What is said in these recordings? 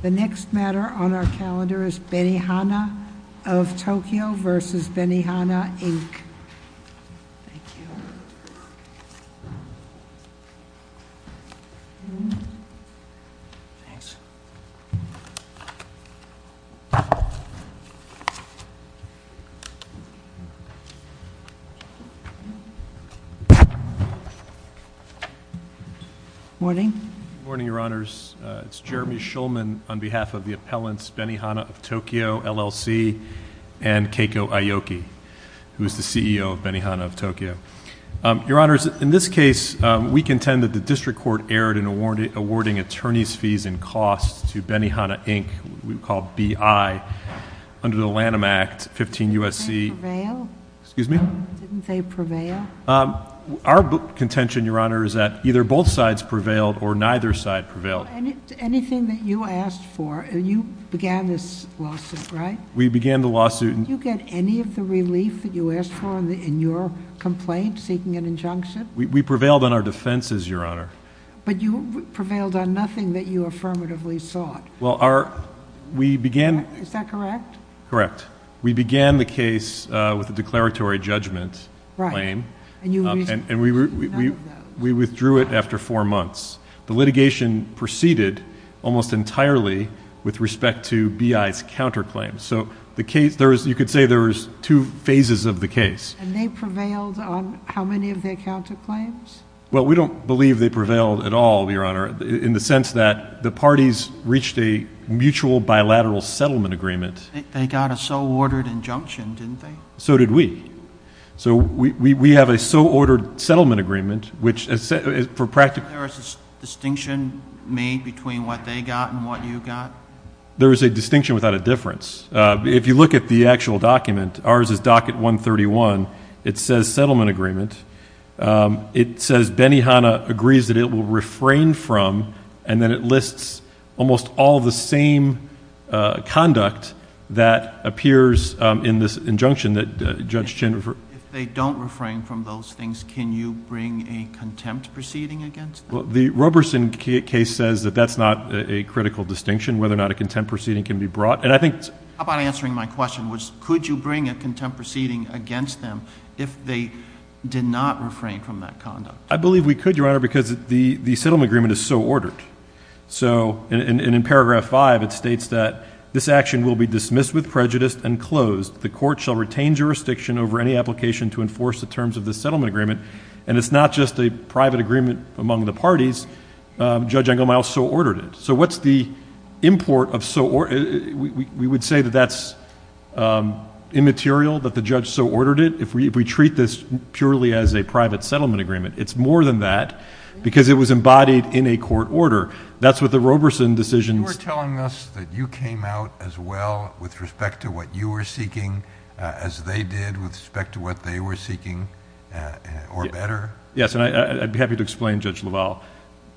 The next matter on our calendar is Benihana of Tokyo v. Benihana, Inc. Thank you. Morning. Morning. Good morning, Your Honors. It's Jeremy Shulman on behalf of the appellants Benihana of Tokyo, LLC, and Keiko Aoki, who is the CEO of Benihana of Tokyo. Your Honors, in this case, we contend that the district court erred in awarding attorney's fees and costs to Benihana, Inc., we call BI, under the Lanham Act, 15 U.S.C. Did they prevail? Excuse me? Did they prevail? Our contention, Your Honor, is that either both sides prevailed or neither side prevailed. Anything that you asked for, you began this lawsuit, right? We began the lawsuit. Did you get any of the relief that you asked for in your complaint seeking an injunction? We prevailed on our defenses, Your Honor. But you prevailed on nothing that you affirmatively sought. Is that correct? Correct. We began the case with a declaratory judgment claim, and we withdrew it after four months. The litigation proceeded almost entirely with respect to BI's counterclaims. So you could say there was two phases of the case. And they prevailed on how many of their counterclaims? Well, we don't believe they prevailed at all, Your Honor, in the sense that the parties reached a mutual bilateral settlement agreement. They got a so-ordered injunction, didn't they? So did we. So we have a so-ordered settlement agreement, which for practical reasons. Was there a distinction made between what they got and what you got? There was a distinction without a difference. If you look at the actual document, ours is docket 131. It says settlement agreement. It says Benihana agrees that it will refrain from, and then it lists almost all the same conduct that appears in this injunction that Judge Chin referred. If they don't refrain from those things, can you bring a contempt proceeding against them? Well, the Roberson case says that that's not a critical distinction, whether or not a contempt proceeding can be brought. How about answering my question, which could you bring a contempt proceeding against them if they did not refrain from that conduct? I believe we could, Your Honor, because the settlement agreement is so ordered. So in paragraph 5, it states that this action will be dismissed with prejudice and closed. The court shall retain jurisdiction over any application to enforce the terms of the settlement agreement. And it's not just a private agreement among the parties. Judge Engelmeyer also ordered it. So what's the import of so—we would say that that's immaterial that the judge so ordered it. If we treat this purely as a private settlement agreement, it's more than that because it was embodied in a court order. That's what the Roberson decision— You were telling us that you came out as well with respect to what you were seeking as they did with respect to what they were seeking, or better. Yes, and I'd be happy to explain, Judge LaValle.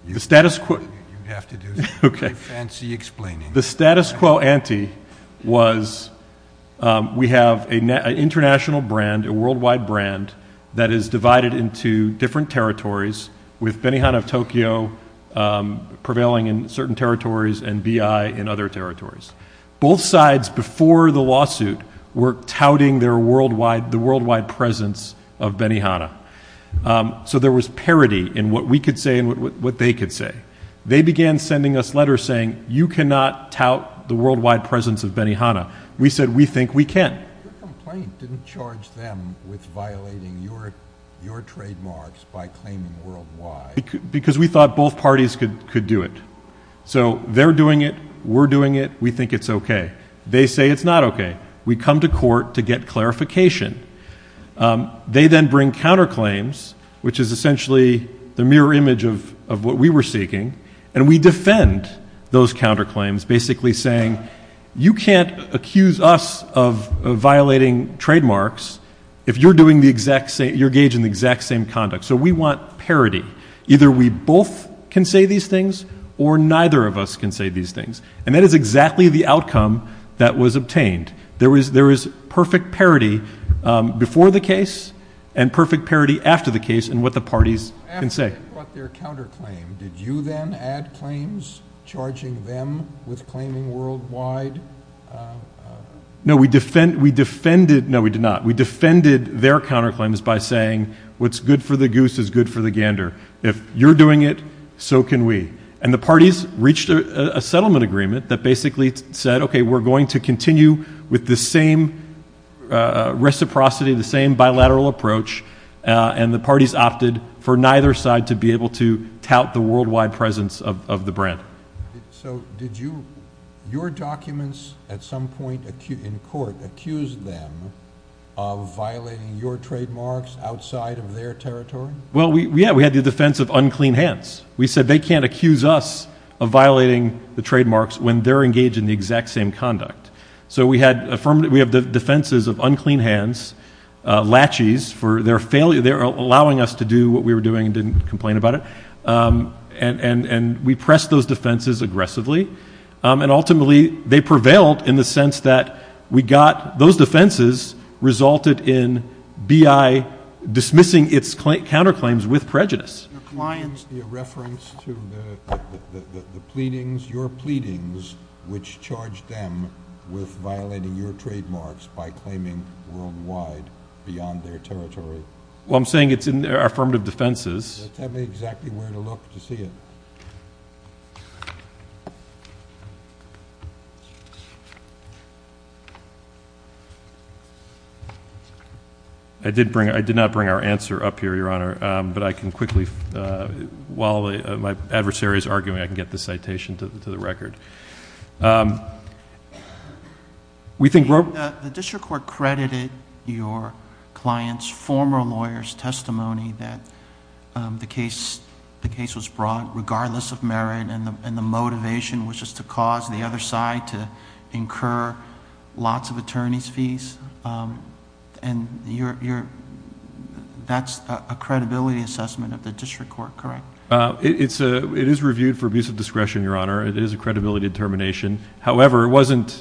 You'd have to do some pretty fancy explaining. The status quo ante was we have an international brand, a worldwide brand, that is divided into different territories, with Benihana of Tokyo prevailing in certain territories and BI in other territories. Both sides before the lawsuit were touting their worldwide—the worldwide presence of Benihana. So there was parity in what we could say and what they could say. They began sending us letters saying, you cannot tout the worldwide presence of Benihana. We said, we think we can. Your complaint didn't charge them with violating your trademarks by claiming worldwide. Because we thought both parties could do it. So they're doing it. We're doing it. We think it's OK. They say it's not OK. We come to court to get clarification. They then bring counterclaims, which is essentially the mirror image of what we were seeking, and we defend those counterclaims, basically saying, you can't accuse us of violating trademarks if you're doing the exact same—you're engaging in the exact same conduct. So we want parity. Either we both can say these things or neither of us can say these things. And that is exactly the outcome that was obtained. There was perfect parity before the case and perfect parity after the case in what the parties can say. After they brought their counterclaim, did you then add claims, charging them with claiming worldwide? No, we defended—no, we did not. We defended their counterclaims by saying, what's good for the goose is good for the gander. If you're doing it, so can we. And the parties reached a settlement agreement that basically said, OK, we're going to continue with the same reciprocity, the same bilateral approach, and the parties opted for neither side to be able to tout the worldwide presence of the brand. So did you—your documents at some point in court accused them of violating your trademarks outside of their territory? Well, yeah, we had the defense of unclean hands. We said they can't accuse us of violating the trademarks when they're engaged in the exact same conduct. So we had affirmative—we have the defenses of unclean hands, latches for their failure— they're allowing us to do what we were doing and didn't complain about it. And we pressed those defenses aggressively, and ultimately they prevailed in the sense that we got— those defenses resulted in BI dismissing its counterclaims with prejudice. Can you give us a reference to the pleadings, your pleadings, which charged them with violating your trademarks by claiming worldwide beyond their territory? Well, I'm saying it's in their affirmative defenses. Tell me exactly where to look to see it. I did bring—I did not bring our answer up here, Your Honor, but I can quickly—while my adversary is arguing, I can get the citation to the record. We think— The district court credited your client's former lawyer's testimony that the case was brought regardless of merit and the motivation was just to cause the other side to incur lots of attorney's fees, and that's a credibility assessment of the district court, correct? It is reviewed for abuse of discretion, Your Honor. It is a credibility determination. However, it wasn't—we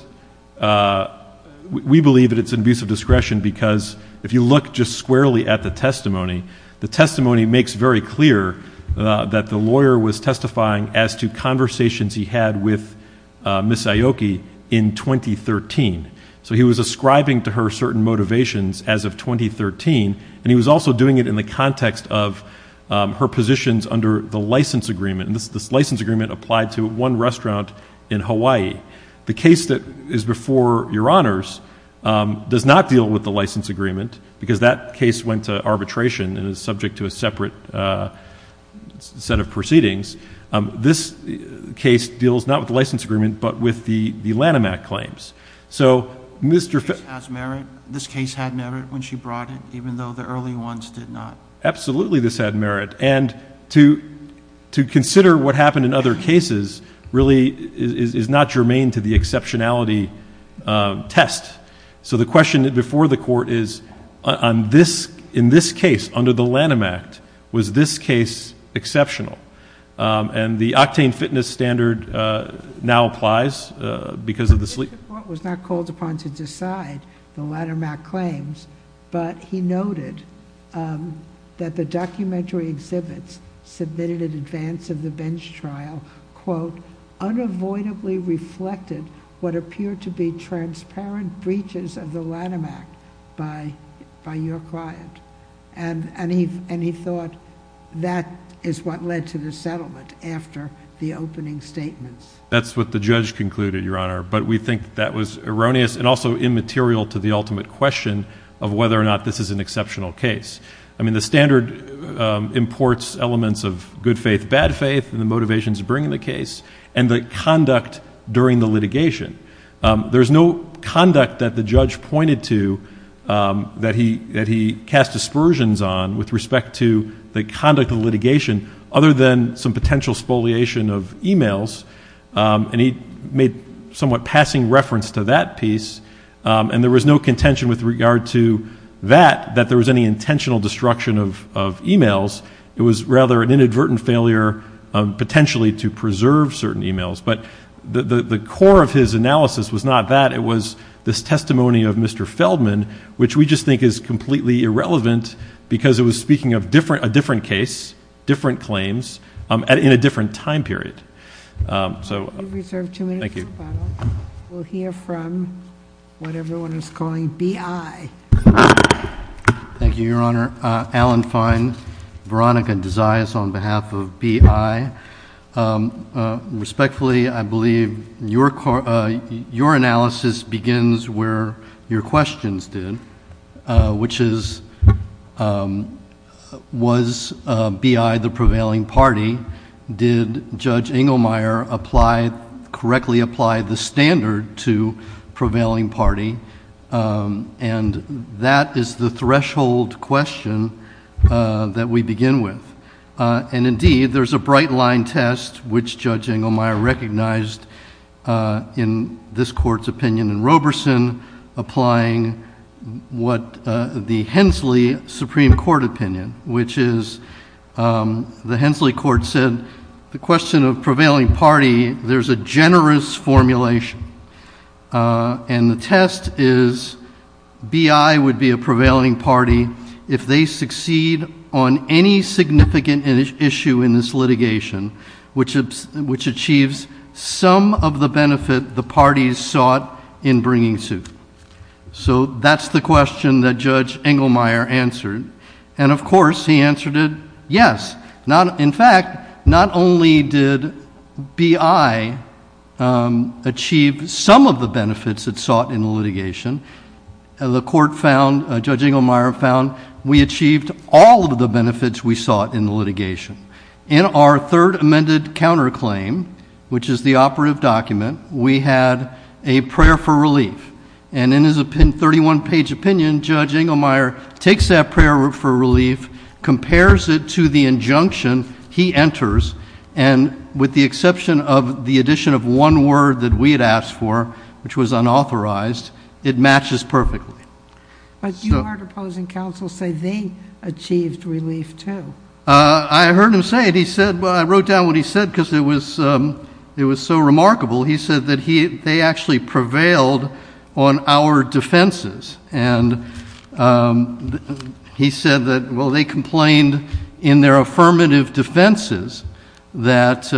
believe that it's an abuse of discretion because if you look just squarely at the testimony, the testimony makes very clear that the lawyer was testifying as to conversations he had with Ms. Aoki in 2013. So he was ascribing to her certain motivations as of 2013, and he was also doing it in the context of her positions under the license agreement, and this license agreement applied to one restaurant in Hawaii. The case that is before Your Honors does not deal with the license agreement because that case went to arbitration and is subject to a separate set of proceedings. This case deals not with the license agreement but with the Lanham Act claims. So Mr.— This case has merit? This case had merit when she brought it even though the early ones did not? Absolutely this had merit. And to consider what happened in other cases really is not germane to the exceptionality test. So the question before the court is in this case under the Lanham Act, was this case exceptional? And the octane fitness standard now applies because of the— The district court was not called upon to decide the Lanham Act claims, but he noted that the documentary exhibits submitted in advance of the bench trial, quote, unavoidably reflected what appeared to be transparent breaches of the Lanham Act by your client. And he thought that is what led to the settlement after the opening statements. That's what the judge concluded, Your Honor, but we think that was erroneous and also immaterial to the ultimate question of whether or not this is an exceptional case. I mean the standard imports elements of good faith, bad faith and the motivations of bringing the case and the conduct during the litigation. There's no conduct that the judge pointed to that he cast aspersions on with respect to the conduct of litigation other than some potential spoliation of e-mails, and he made somewhat passing reference to that piece. And there was no contention with regard to that, that there was any intentional destruction of e-mails. It was rather an inadvertent failure potentially to preserve certain e-mails. But the core of his analysis was not that. It was this testimony of Mr. Feldman, which we just think is completely irrelevant because it was speaking of a different case, different claims, in a different time period. Thank you. We'll hear from what everyone is calling B.I. Thank you, Your Honor. Alan Fine, Veronica Desias on behalf of B.I. Respectfully, I believe your analysis begins where your questions did, which is was B.I. the prevailing party? Did Judge Inglemeyer correctly apply the standard to prevailing party? And that is the threshold question that we begin with. And, indeed, there's a bright-line test, which Judge Inglemeyer recognized in this Court's opinion in Roberson, applying what the Hensley Supreme Court opinion, which is the Hensley Court said the question of prevailing party, there's a generous formulation, and the test is B.I. would be a prevailing party if they succeed on any significant issue in this litigation, which achieves some of the benefit the parties sought in bringing suit. So that's the question that Judge Inglemeyer answered. And, of course, he answered it yes. In fact, not only did B.I. achieve some of the benefits it sought in the litigation, the Court found, Judge Inglemeyer found, we achieved all of the benefits we sought in the litigation. In our third amended counterclaim, which is the operative document, we had a prayer for relief. And in his 31-page opinion, Judge Inglemeyer takes that prayer for relief, compares it to the injunction he enters, and with the exception of the addition of one word that we had asked for, which was unauthorized, it matches perfectly. But you are opposing counsel say they achieved relief too. I heard him say it. He said, well, I wrote down what he said because it was so remarkable. He said that they actually prevailed on our defenses. And he said that, well, they complained in their affirmative defenses that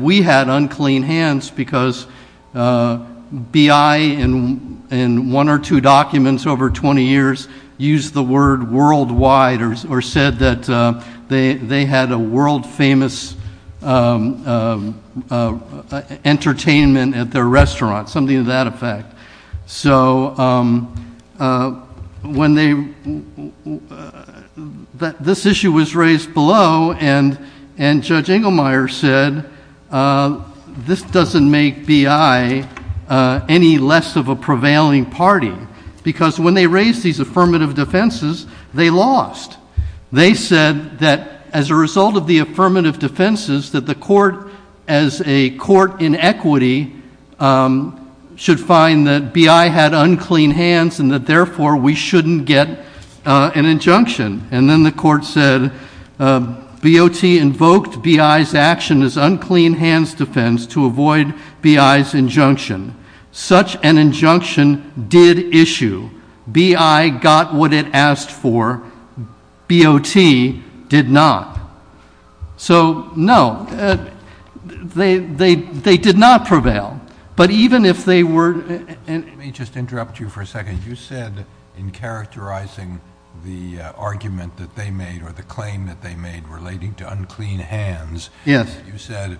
we had unclean hands because B.I. in one or two documents over 20 years used the word worldwide or said that they had a world-famous entertainment at their restaurant, something to that effect. So this issue was raised below, and Judge Inglemeyer said, this doesn't make B.I. any less of a prevailing party because when they raised these affirmative defenses, they lost. They said that as a result of the affirmative defenses, that the court, as a court in equity, should find that B.I. had unclean hands and that therefore we shouldn't get an injunction. And then the court said, B.O.T. invoked B.I.'s action as unclean hands defense to avoid B.I.'s injunction. Such an injunction did issue. B.I. got what it asked for. B.O.T. did not. So, no, they did not prevail. But even if they were— Let me just interrupt you for a second. You said in characterizing the argument that they made or the claim that they made relating to unclean hands— Yes. You said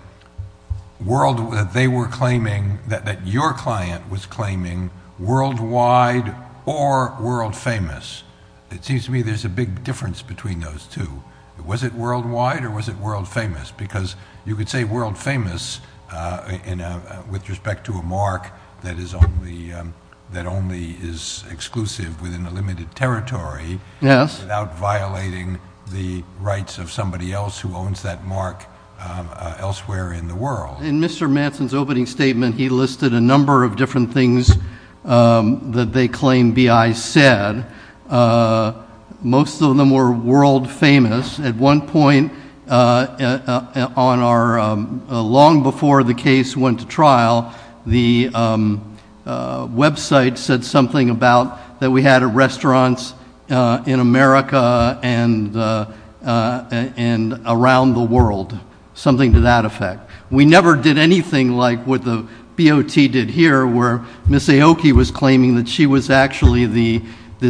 they were claiming that your client was claiming worldwide or world-famous. It seems to me there's a big difference between those two. Was it worldwide or was it world-famous? Because you could say world-famous with respect to a mark that only is exclusive within a limited territory— Yes. —without violating the rights of somebody else who owns that mark elsewhere in the world. In Mr. Manson's opening statement, he listed a number of different things that they claimed B.I. said. Most of them were world-famous. At one point, long before the case went to trial, the website said something about that we had restaurants in America and around the world, something to that effect. We never did anything like what the BOT did here where Ms. Aoki was claiming that she was actually the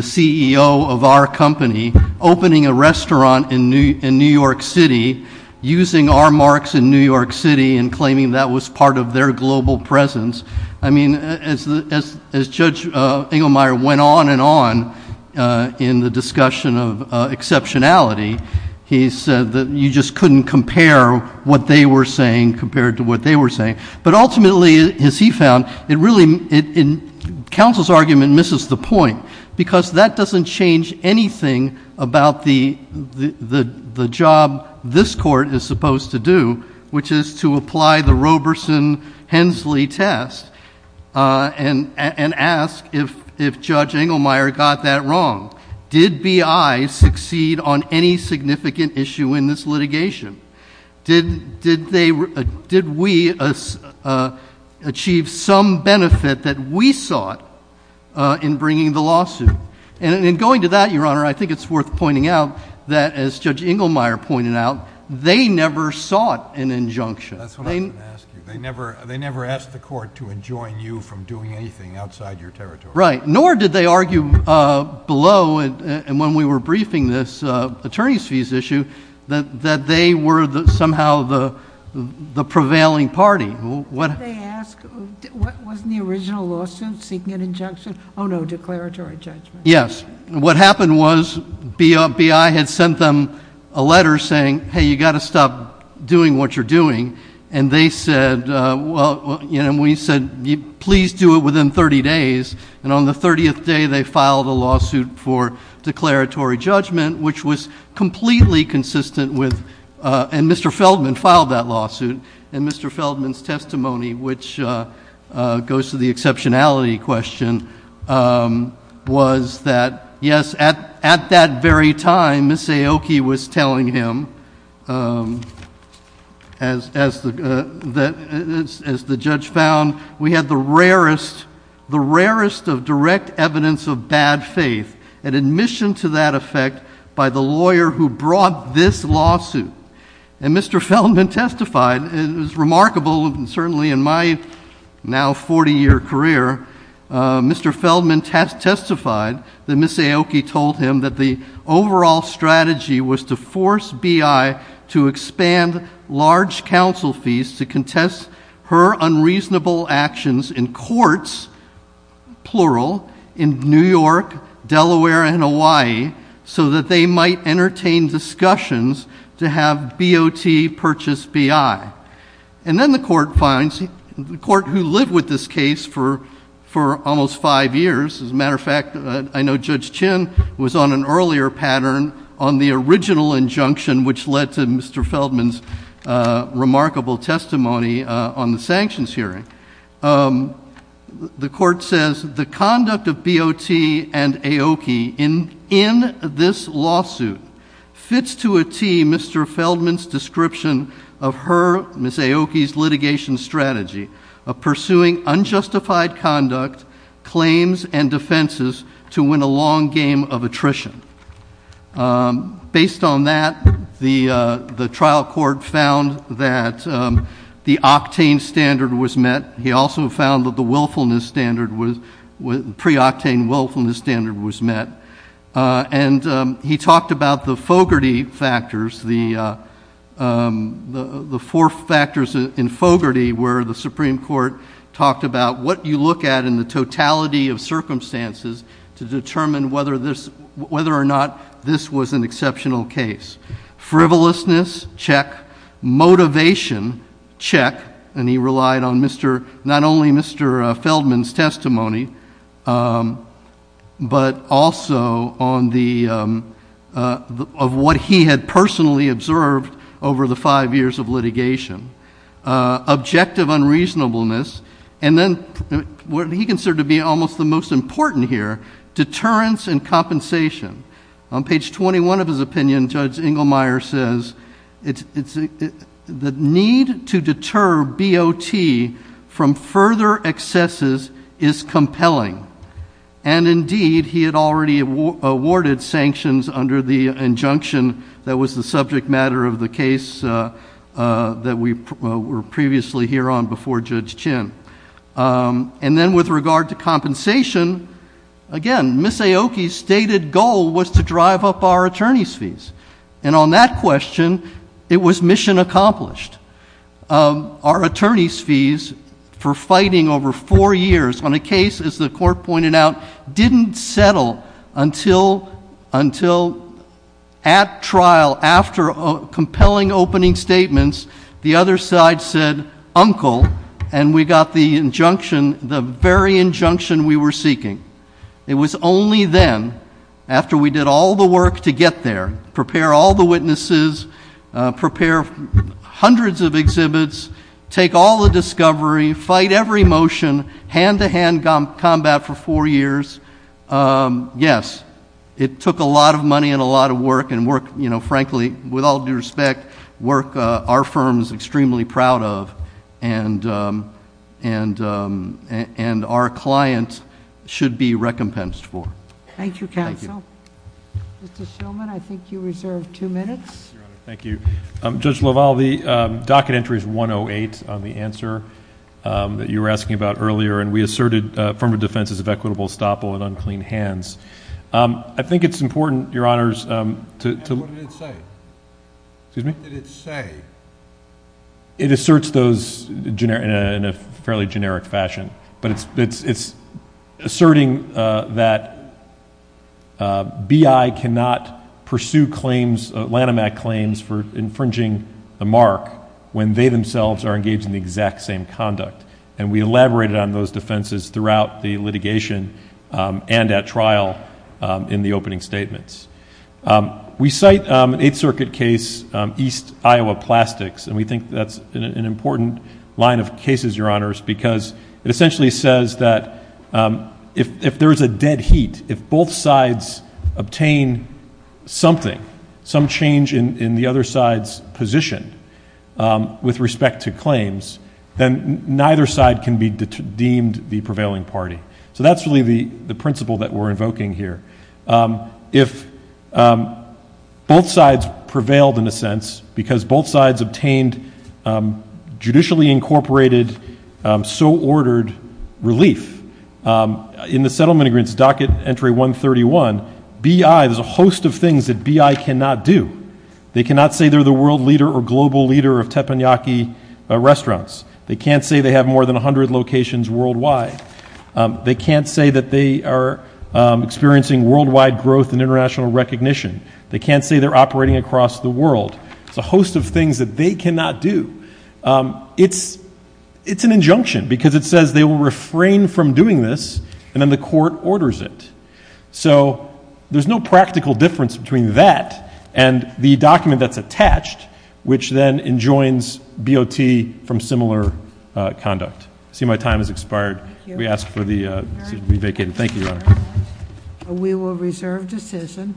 CEO of our company opening a restaurant in New York City, using our marks in New York City, and claiming that was part of their global presence. I mean, as Judge Engelmeyer went on and on in the discussion of exceptionality, he said that you just couldn't compare what they were saying compared to what they were saying. But ultimately, as he found, it really—Counsel's argument misses the point because that doesn't change anything about the job this Court is supposed to do, which is to apply the Roberson-Hensley test and ask if Judge Engelmeyer got that wrong. Did B.I. succeed on any significant issue in this litigation? Did we achieve some benefit that we sought in bringing the lawsuit? And in going to that, Your Honor, I think it's worth pointing out that, as Judge Engelmeyer pointed out, they never sought an injunction. That's what I was going to ask you. They never asked the Court to enjoin you from doing anything outside your territory. Right. Nor did they argue below, and when we were briefing this attorneys' fees issue, that they were somehow the prevailing party. They asked, wasn't the original lawsuit seeking an injunction? Oh, no, declaratory judgment. Yes. What happened was B.I. had sent them a letter saying, hey, you've got to stop doing what you're doing. And they said, well, you know, we said, please do it within 30 days. And on the 30th day, they filed a lawsuit for declaratory judgment, which was completely consistent with, and Mr. Feldman filed that lawsuit. And Mr. Feldman's testimony, which goes to the exceptionality question, was that, yes, at that very time, Ms. Aoki was telling him, as the judge found, we had the rarest of direct evidence of bad faith, and admission to that effect by the lawyer who brought this lawsuit. And Mr. Feldman testified, it was remarkable, and certainly in my now 40-year career, Mr. Feldman testified that Ms. Aoki told him that the overall strategy was to force B.I. to expand large counsel fees to contest her unreasonable actions in courts, plural, in New York, Delaware, and Hawaii, so that they might entertain discussions to have B.O.T. purchase B.I. And then the court finds, the court who lived with this case for almost five years, as a matter of fact, I know Judge Chin was on an earlier pattern on the original injunction, which led to Mr. Feldman's remarkable testimony on the sanctions hearing. The court says, the conduct of B.O.T. and Aoki in this lawsuit fits to a tee Mr. Feldman's description of her, Ms. Aoki's litigation strategy of pursuing unjustified conduct, claims, and defenses to win a long game of attrition. Based on that, the trial court found that the octane standard was met. He also found that the willfulness standard, pre-octane willfulness standard was met. And he talked about the Fogarty factors, the four factors in Fogarty, where the Supreme Court talked about what you look at in the totality of circumstances to determine whether or not this was an exceptional case. Frivolousness, check. Motivation, check. And he relied on not only Mr. Feldman's testimony, but also on what he had personally observed over the five years of litigation. Objective unreasonableness, and then what he considered to be almost the most important here, deterrence and compensation. On page 21 of his opinion, Judge Inglemeyer says, the need to deter B.O.T. from further excesses is compelling. And indeed, he had already awarded sanctions under the injunction that was the subject matter of the case that we were previously here on before Judge Chin. And then with regard to compensation, again, Ms. Aoki's stated goal was to drive up our attorney's fees. And on that question, it was mission accomplished. Our attorney's fees for fighting over four years on a case, as the court pointed out, didn't settle until at trial, after compelling opening statements, the other side said, uncle, and we got the injunction, the very injunction we were seeking. It was only then, after we did all the work to get there, prepare all the witnesses, prepare hundreds of exhibits, take all the discovery, fight every motion, hand-to-hand combat for four years. Yes, it took a lot of money and a lot of work, and work, frankly, with all due respect, work our firm is extremely proud of and our client should be recompensed for. Thank you, counsel. Mr. Shillman, I think you reserved two minutes. Thank you. Judge LaValle, the docket entry is 108 on the answer that you were asking about earlier, and we asserted firm of defense is of equitable estoppel and unclean hands. I think it's important, Your Honors, to... What did it say? Excuse me? What did it say? It asserts those in a fairly generic fashion, but it's asserting that BI cannot pursue claims, Lanham Act claims, for infringing the mark when they themselves are engaged in the exact same conduct. And we elaborated on those defenses throughout the litigation and at trial in the opening statements. We cite an Eighth Circuit case, East Iowa Plastics, and we think that's an important line of cases, Your Honors, because it essentially says that if there is a dead heat, if both sides obtain something, some change in the other side's position with respect to claims, then neither side can be deemed the prevailing party. So that's really the principle that we're invoking here. If both sides prevailed, in a sense, because both sides obtained judicially incorporated, so-ordered relief, in the Settlement Agreement's Docket Entry 131, BI, there's a host of things that BI cannot do. They cannot say they're the world leader or global leader of teppanyaki restaurants. They can't say they have more than 100 locations worldwide. They can't say that they are experiencing worldwide growth and international recognition. They can't say they're operating across the world. There's a host of things that they cannot do. It's an injunction because it says they will refrain from doing this, and then the court orders it. So there's no practical difference between that and the document that's attached, which then enjoins BOT from similar conduct. I see my time has expired. We ask for the vacated. Thank you, Your Honor. We will reserve decision.